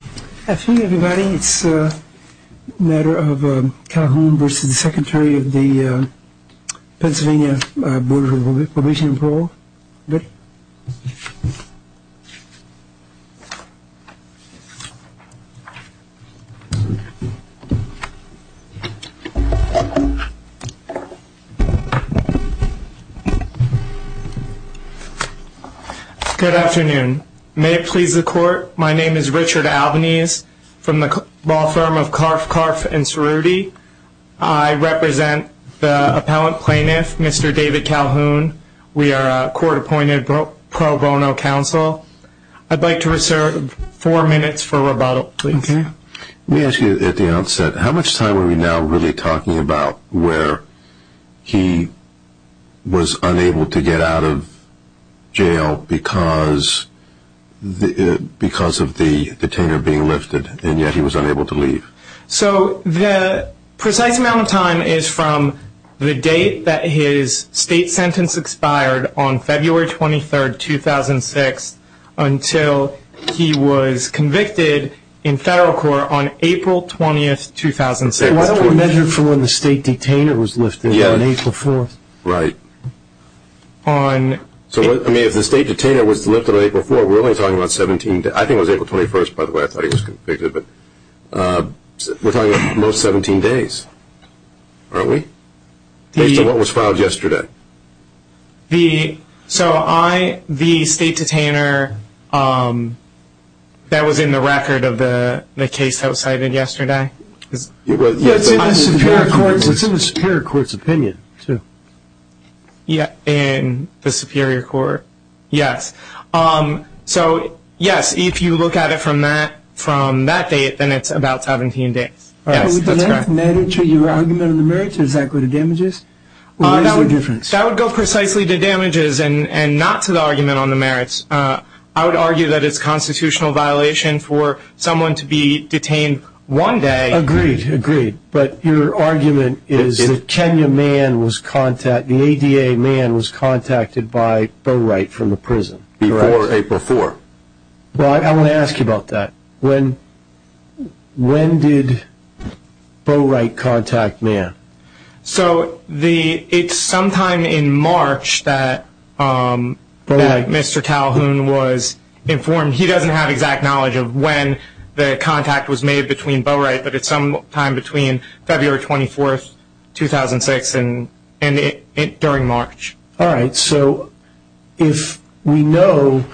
Good afternoon everybody. It's a matter of Calhoun v. Secretary of the Pennsylvania Board of Probation and Parole. Good afternoon. May it please the court, my name is Richard Albanese from the law firm of Karff, Karff & Cerruti. I represent the appellant plaintiff, Mr. David Calhoun. We are a court appointed pro bono counsel. I'd like to reserve four minutes for rebuttal, please. Let me ask you at the outset, how much time are we now really talking about where he was unable to get out of jail because of the detainer being lifted and yet he was unable to leave? So the precise amount of time is from the date that his state sentence expired on February 23rd, 2006 until he was convicted in federal court on April 20th, 2006. Why don't we measure for when the state detainer was lifted on April 4th? Right. So if the state detainer was lifted on April 4th, we're only talking about 17 days. I think it was April 21st, by the way, I thought he was convicted. We're talking about most 17 days, aren't we? Based on what was filed yesterday. So the state detainer that was in the record of the case that was cited yesterday? It's in the superior court's opinion, too. Yeah, in the superior court. Yes. So, yes, if you look at it from that date, then it's about 17 days. Would the length matter to your argument on the merits or does that go to damages? Or what is the difference? That would go precisely to damages and not to the argument on the merits. I would argue that it's constitutional violation for someone to be detained one day. Agreed, agreed. But your argument is that Kenya Mann was contacted, the ADA Mann was contacted by Bowright from the prison. Before April 4th. Well, I want to ask you about that. When did Bowright contact Mann? So it's sometime in March that Mr. Calhoun was informed. He doesn't have exact knowledge of when the contact was made between Bowright, but it's sometime between February 24th, 2006 and during March. Alright, so if we know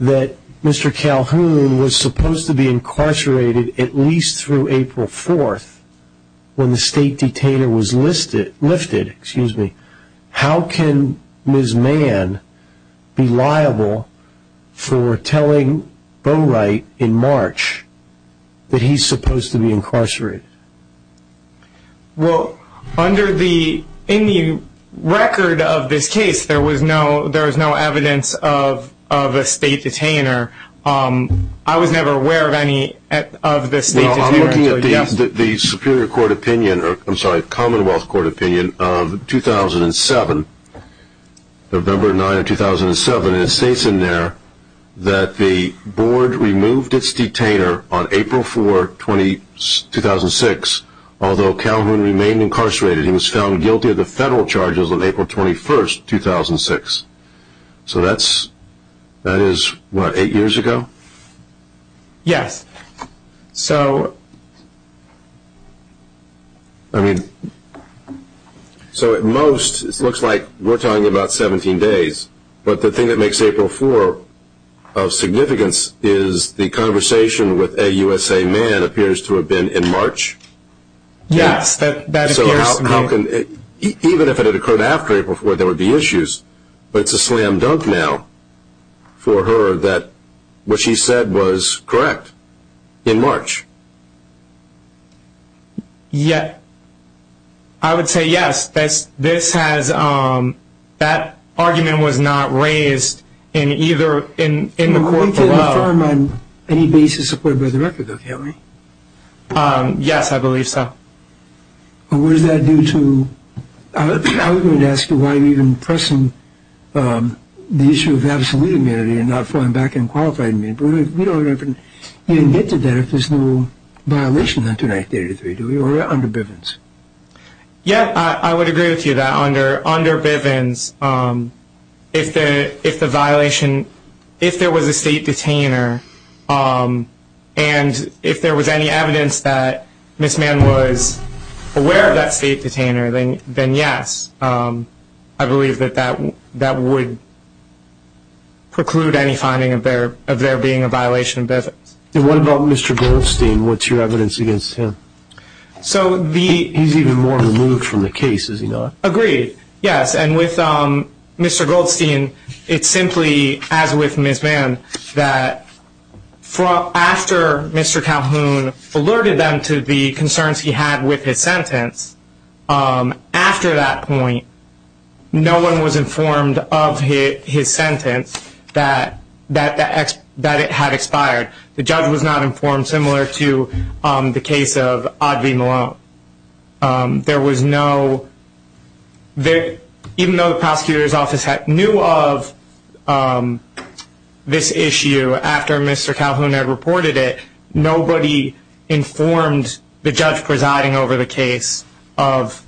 that Mr. Calhoun was supposed to be incarcerated at least through April 4th, when the state detainer was lifted, how can Ms. Mann be liable for telling Bowright in March that he's supposed to be incarcerated? Well, in the record of this case, there was no evidence of a state detainer. I was never aware of any of the state detainers. Well, I'm looking at the Commonwealth Court opinion of 2007, November 9th, 2007, and it states in there that the board removed its detainer on April 4th, 2006, although Calhoun remained incarcerated. He was found guilty of the federal charges on April 21st, 2006. So that is, what, eight years ago? Yes. So, I mean, so at most, it looks like we're talking about 17 days, but the thing that makes April 4th of significance is the conversation with AUSA Mann appears to have been in March? Yes, that appears to be. Even if it had occurred after April 4th, there would be issues, but it's a slam dunk now for her that what she said was correct in March. Yeah, I would say yes. This has, that argument was not raised in either, in the court below. Were you able to confirm on any basis supported by the record, though, Calhoun? Yes, I believe so. Well, what does that do to, I was going to ask you why you're even pressing the issue of absolute immunity and not falling back on qualified immunity, but we don't even, you didn't get to that if there's no violation on 283, do we, or under Bivens? Yeah, I would agree with you that under Bivens, if the violation, if there was a state detainer, and if there was any evidence that Ms. Mann was aware of that state detainer, then yes, I believe that that would preclude any finding of there being a violation of Bivens. And what about Mr. Goldstein? What's your evidence against him? He's even more removed from the case, is he not? Agreed, yes. And with Mr. Goldstein, it's simply, as with Ms. Mann, that after Mr. Calhoun alerted them to the concerns he had with his sentence, after that point, no one was informed of his sentence, that it had expired. The judge was not informed, similar to the case of Audrey Malone. There was no, even though the prosecutor's office knew of this issue after Mr. Calhoun had reported it, nobody informed the judge presiding over the case of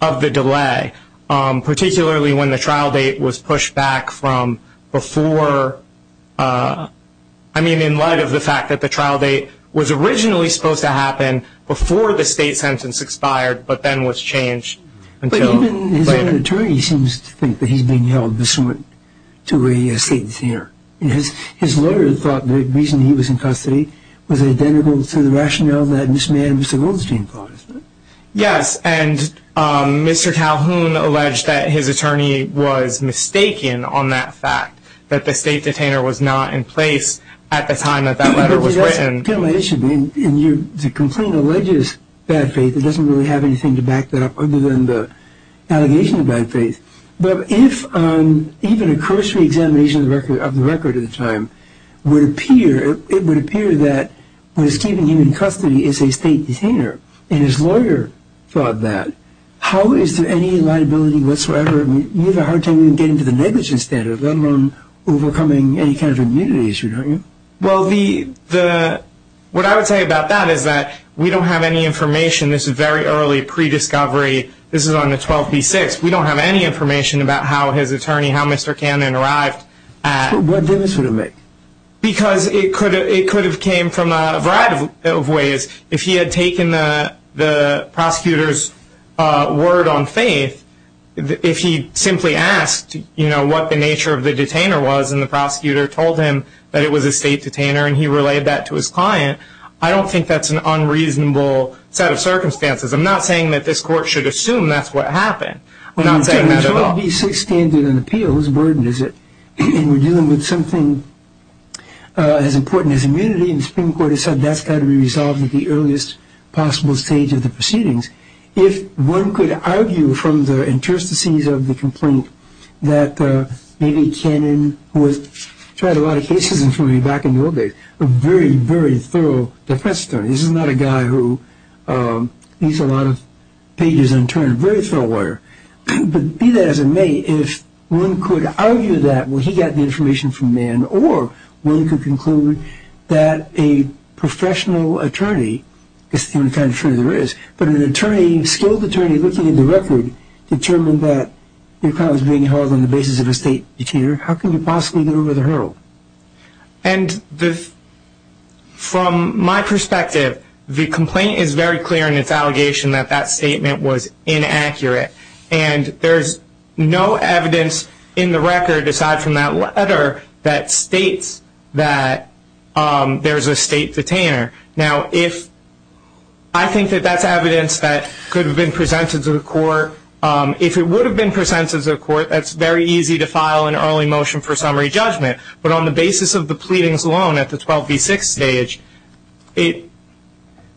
the delay, particularly when the trial date was pushed back from before, I mean in light of the fact that the trial date was originally supposed to happen before the state sentence expired, but then was changed until later. But even his own attorney seems to think that he's being held dissent to a state detainer. His lawyer thought the reason he was in custody was identical to the rationale that Ms. Mann and Mr. Goldstein thought. Yes, and Mr. Calhoun alleged that his attorney was mistaken on that fact, that the state detainer was not in place at the time that that letter was written. That's a different issue. The complaint alleges bad faith. It doesn't really have anything to back that up other than the allegation of bad faith. But if even a cursory examination of the record at the time would appear, it would appear that what is keeping him in custody is a state detainer, and his lawyer thought that. How is there any liability whatsoever? You have a hard time even getting to the negligence standard, let alone overcoming any kind of immunity issue, don't you? Well, what I would say about that is that we don't have any information. This is very early, pre-discovery. This is on the 12b-6. We don't have any information about how his attorney, how Mr. Cannon, arrived. What difference would it make? Because it could have came from a variety of ways. If he had taken the prosecutor's word on faith, if he simply asked what the nature of the detainer was and the prosecutor told him that it was a state detainer and he relayed that to his client, I don't think that's an unreasonable set of circumstances. I'm not saying that this court should assume that's what happened. I'm not saying that at all. The 12b-6 standard in the appeal, whose burden is it? And we're dealing with something as important as immunity, and the Supreme Court has said that's got to be resolved at the earliest possible stage of the proceedings. If one could argue from the interstices of the complaint that maybe Cannon, who has tried a lot of cases including back in the old days, a very, very thorough defense attorney. This is not a guy who reads a lot of pages in a term, a very thorough lawyer. But be that as it may, if one could argue that he got the information from Mann or one could conclude that a professional attorney is the only kind of attorney there is, but an attorney, a skilled attorney looking at the record, determined that your client was being held on the basis of a state detainer, how can you possibly get over the hurdle? And from my perspective, the complaint is very clear in its allegation that that statement was inaccurate. And there's no evidence in the record aside from that letter that states that there's a state detainer. Now, I think that that's evidence that could have been presented to the court. If it would have been presented to the court, that's very easy to file an early motion for summary judgment. But on the basis of the pleadings alone at the 12B6 stage,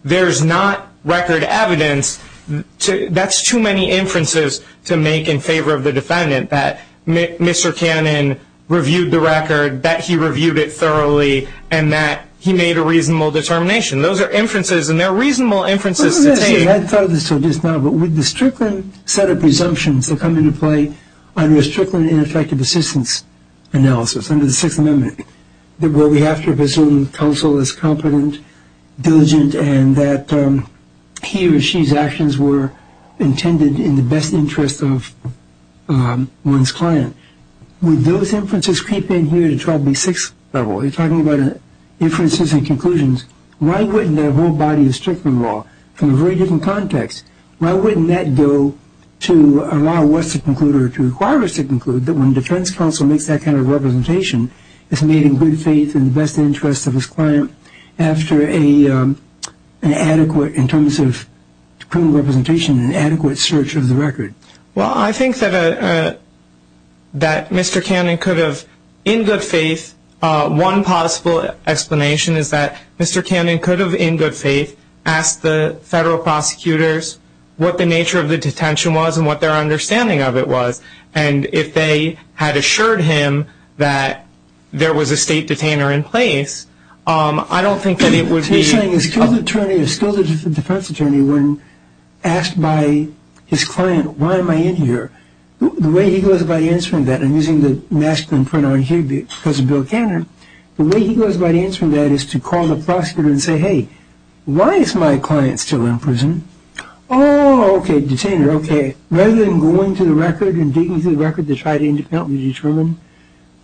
there's not record evidence. That's too many inferences to make in favor of the defendant that Mr. Cannon reviewed the record, that he reviewed it thoroughly, and that he made a reasonable determination. Those are inferences, and they're reasonable inferences to take. I thought of this just now, but would the Strickland set of presumptions that come into play under a Strickland ineffective assistance analysis under the Sixth Amendment, where we have to presume counsel is competent, diligent, and that he or she's actions were intended in the best interest of one's client, would those inferences creep in here to 12B6 level? You're talking about inferences and conclusions. Why wouldn't that whole body of Strickland law from a very different context, why wouldn't that go to allow what's to conclude or to require us to conclude that when defense counsel makes that kind of representation, it's made in good faith in the best interest of his client after an adequate, in terms of criminal representation, an adequate search of the record? Well, I think that Mr. Cannon could have, in good faith, one possible explanation is that Mr. Cannon could have, in good faith, asked the federal prosecutors what the nature of the detention was and what their understanding of it was, and if they had assured him that there was a state detainer in place, I don't think that it would be. So you're saying a skilled attorney, a skilled defense attorney, when asked by his client, why am I in here, the way he goes about answering that, I'm using the masculine pronoun here because of Bill Cannon, the way he goes about answering that is to call the prosecutor and say, hey, why is my client still in prison? Oh, okay, detainer, okay, rather than going to the record and digging through the record to try to independently determine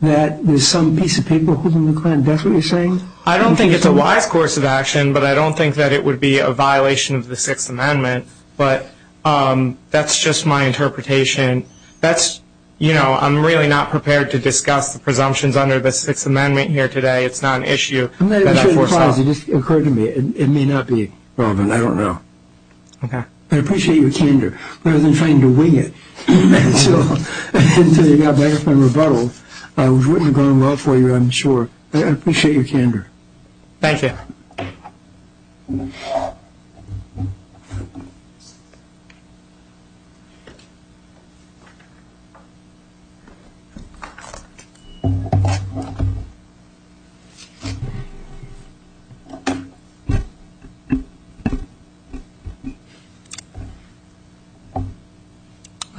that there's some piece of paper holding the client, that's what you're saying? I don't think it's a wise course of action, but I don't think that it would be a violation of the Sixth Amendment, but that's just my interpretation. I'm really not prepared to discuss the presumptions under the Sixth Amendment here today. It's not an issue that I foresaw. It just occurred to me. It may not be relevant. I don't know. Okay. I appreciate your candor. I wasn't trying to wing it until you got back from rebuttal. It wouldn't have gone well for you, I'm sure. I appreciate your candor. Thank you. Thank you.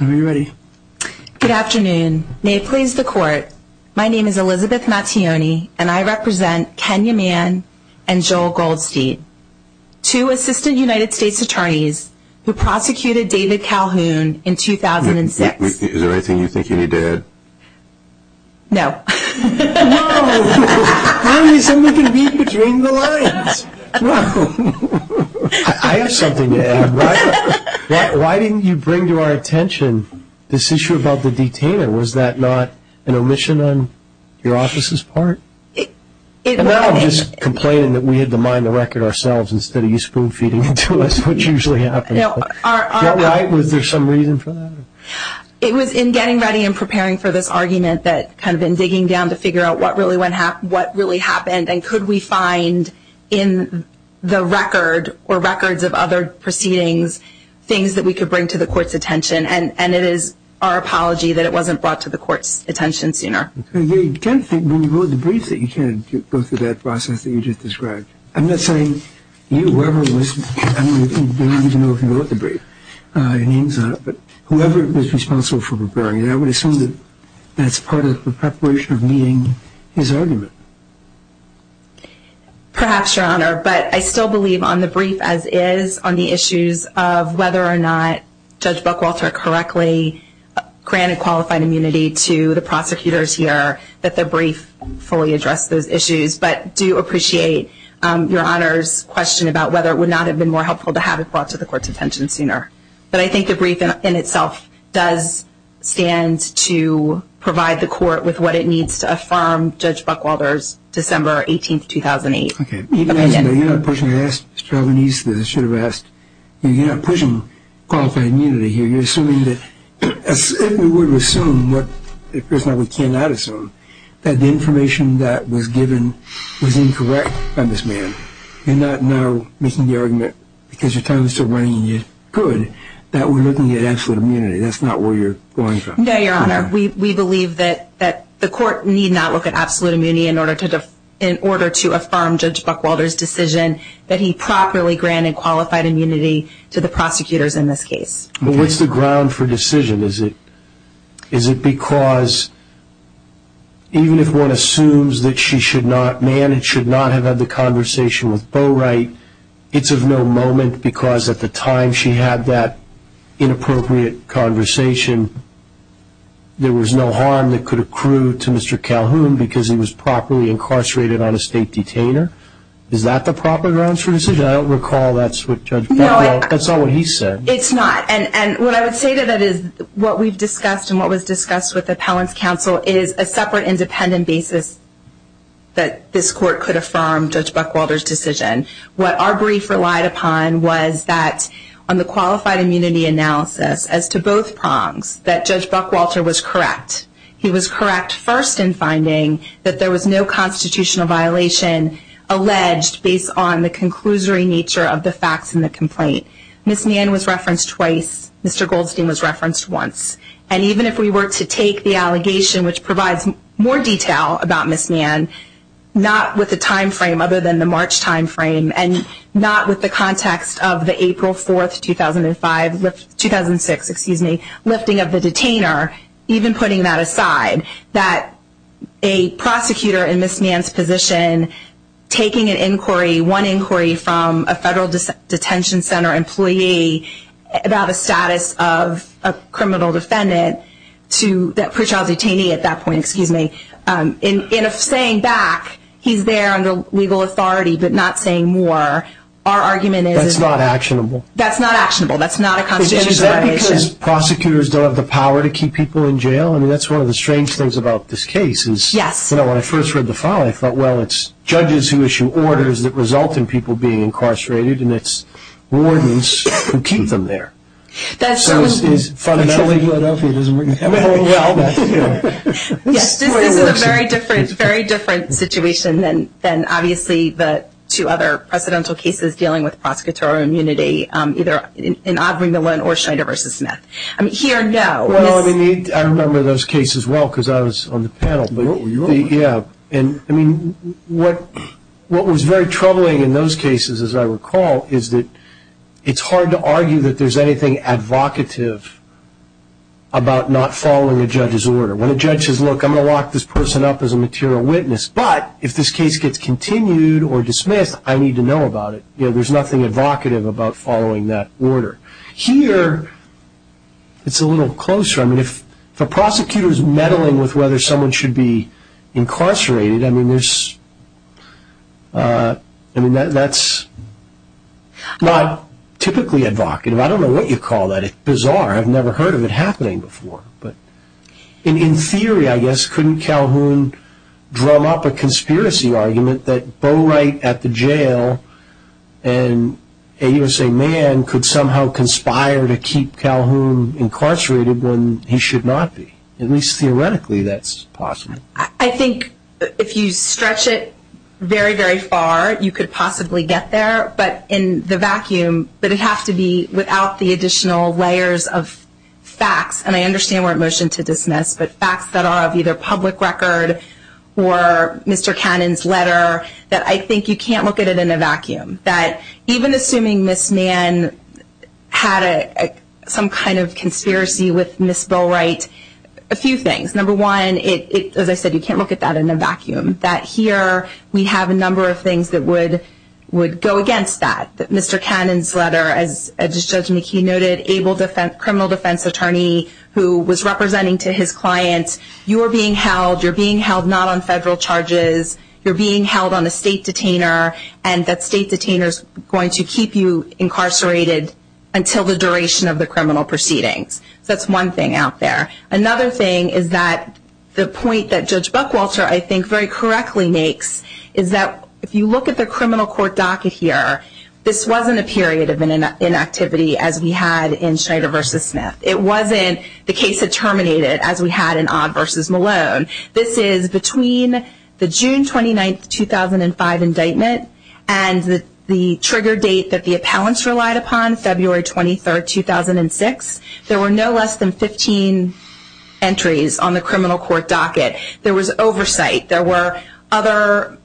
Are we ready? Good afternoon. May it please the Court, my name is Elizabeth Mattione, and I represent Kenya Mann and Joel Goldstein, two Assistant United States Attorneys who prosecuted David Calhoun in 2006. Is there anything you think he did? No. No. How can someone read between the lines? No. I have something to add. Why didn't you bring to our attention this issue about the detainer? Was that not an omission on your office's part? No, I'm just complaining that we had to mine the record ourselves instead of you spoon-feeding it to us, which usually happens. Was there some reason for that? It was in getting ready and preparing for this argument, kind of in digging down to figure out what really happened and could we find in the record or records of other proceedings things that we could bring to the Court's attention, and it is our apology that it wasn't brought to the Court's attention sooner. You tend to think when you go through the brief that you can't go through that process that you just described. I'm not saying you, whoever it was. I don't even know if you wrote the brief, but whoever was responsible for preparing it, I would assume that that's part of the preparation of meeting his argument. Perhaps, Your Honor, but I still believe on the brief, as is, on the issues of whether or not Judge Buckwalter correctly granted qualified immunity to the prosecutors here that the brief fully addressed those issues, but I do appreciate Your Honor's question about whether it would not have been more helpful to have it brought to the Court's attention sooner. But I think the brief in itself does stand to provide the Court with what it needs to affirm Judge Buckwalter's December 18, 2008. You're not pushing qualified immunity here. You're assuming that, as if we would assume, what it appears now we cannot assume, that the information that was given was incorrect by this man. You're not now making the argument, because your time is still running and you could, that we're looking at absolute immunity. That's not where you're going from. No, Your Honor. We believe that the Court need not look at absolute immunity in order to affirm Judge Buckwalter's decision that he properly granted qualified immunity to the prosecutors in this case. But what's the ground for decision? Is it because, even if one assumes that she should not have had the conversation with Bowright, it's of no moment because at the time she had that inappropriate conversation, there was no harm that could accrue to Mr. Calhoun because he was properly incarcerated on a state detainer? Is that the proper grounds for decision? I don't recall that's what Judge Buckwalter, that's not what he said. It's not, and what I would say to that is, what we've discussed and what was discussed with the Appellant's Counsel is a separate independent basis that this Court could affirm Judge Buckwalter's decision. What our brief relied upon was that on the qualified immunity analysis, as to both prongs, that Judge Buckwalter was correct. He was correct first in finding that there was no constitutional violation alleged based on the conclusory nature of the facts in the complaint. Ms. Mann was referenced twice. Mr. Goldstein was referenced once. And even if we were to take the allegation, which provides more detail about Ms. Mann, not with the time frame other than the March time frame, and not with the context of the April 4, 2005, 2006, excuse me, lifting of the detainer, even putting that aside, that a prosecutor in Ms. Mann's position taking an inquiry, one inquiry from a federal detention center employee about a status of a criminal defendant to that pretrial detainee at that point, excuse me, in a saying back, he's there under legal authority but not saying more, our argument is. That's not actionable. That's not actionable. That's not a constitutional violation. Is that because prosecutors don't have the power to keep people in jail? I mean, that's one of the strange things about this case. Yes. When I first read the file, I thought, well, it's judges who issue orders that result in people being incarcerated, and it's wardens who keep them there. So it's fun enough. Until legal authority doesn't work. Yes, this is a very different situation than, obviously, the two other precedential cases dealing with prosecutorial immunity, either in Aubrey Millen or Schneider v. Smith. Here, no. Well, I mean, I remember those cases well because I was on the panel. Yeah. I mean, what was very troubling in those cases, as I recall, is that it's hard to argue that there's anything advocative about not following a judge's order. When a judge says, look, I'm going to lock this person up as a material witness, but if this case gets continued or dismissed, I need to know about it, there's nothing advocative about following that order. Here, it's a little closer. I mean, if a prosecutor is meddling with whether someone should be incarcerated, I mean, that's not typically advocative. I don't know what you call that. It's bizarre. I've never heard of it happening before. In theory, I guess, couldn't Calhoun drum up a conspiracy argument that Bo Wright at the jail and a U.S.A. man could somehow conspire to keep Calhoun incarcerated when he should not be. At least theoretically, that's possible. I think if you stretch it very, very far, you could possibly get there. But in the vacuum, but it has to be without the additional layers of facts, and I understand we're at motion to dismiss, but facts that are of either public record or Mr. Cannon's letter, that I think you can't look at it in a vacuum, that even assuming Ms. Mann had some kind of conspiracy with Ms. Bo Wright, a few things. Number one, as I said, you can't look at that in a vacuum, that here we have a number of things that would go against that. Mr. Cannon's letter, as Judge McKee noted, able criminal defense attorney who was representing to his client, you're being held, you're being held not on federal charges, you're being held on a state detainer, and that state detainer is going to keep you incarcerated until the duration of the criminal proceedings. That's one thing out there. Another thing is that the point that Judge Buckwalter, I think, very correctly makes, is that if you look at the criminal court docket here, this wasn't a period of inactivity as we had in Schrader v. Smith. It wasn't the case had terminated as we had in Odd v. Malone. This is between the June 29, 2005 indictment and the trigger date that the appellants relied upon, February 23, 2006. There were no less than 15 entries on the criminal court docket. There was oversight. There were other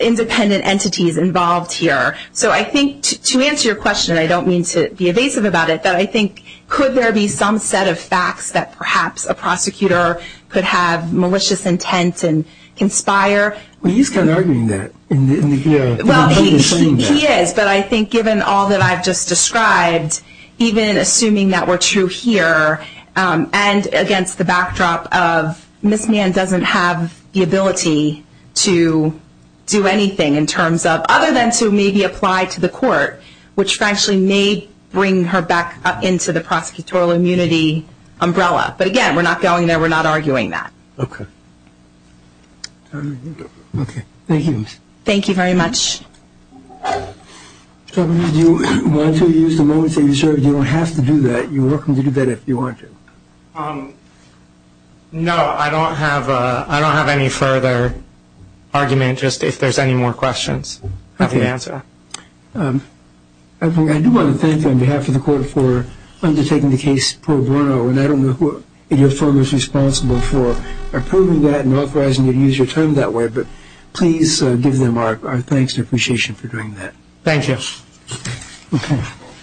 independent entities involved here. So I think to answer your question, and I don't mean to be evasive about it, but I think could there be some set of facts that perhaps a prosecutor could have malicious intent and conspire? He's kind of arguing that. Well, he is, but I think given all that I've just described, even assuming that we're true here and against the backdrop of Ms. Mann doesn't have the ability to do anything in terms of, other than to maybe apply to the court, which actually may bring her back up into the prosecutorial immunity umbrella. But, again, we're not going there. We're not arguing that. Okay. Thank you. Thank you very much. Do you want to use the moments that you served? You don't have to do that. You're welcome to do that if you want to. No, I don't have any further argument, just if there's any more questions. I do want to thank you on behalf of the court for undertaking the case pro bono, and I don't know who in your firm is responsible for approving that and authorizing you to use your term that way, but please give them our thanks and appreciation for doing that. Thank you. Okay.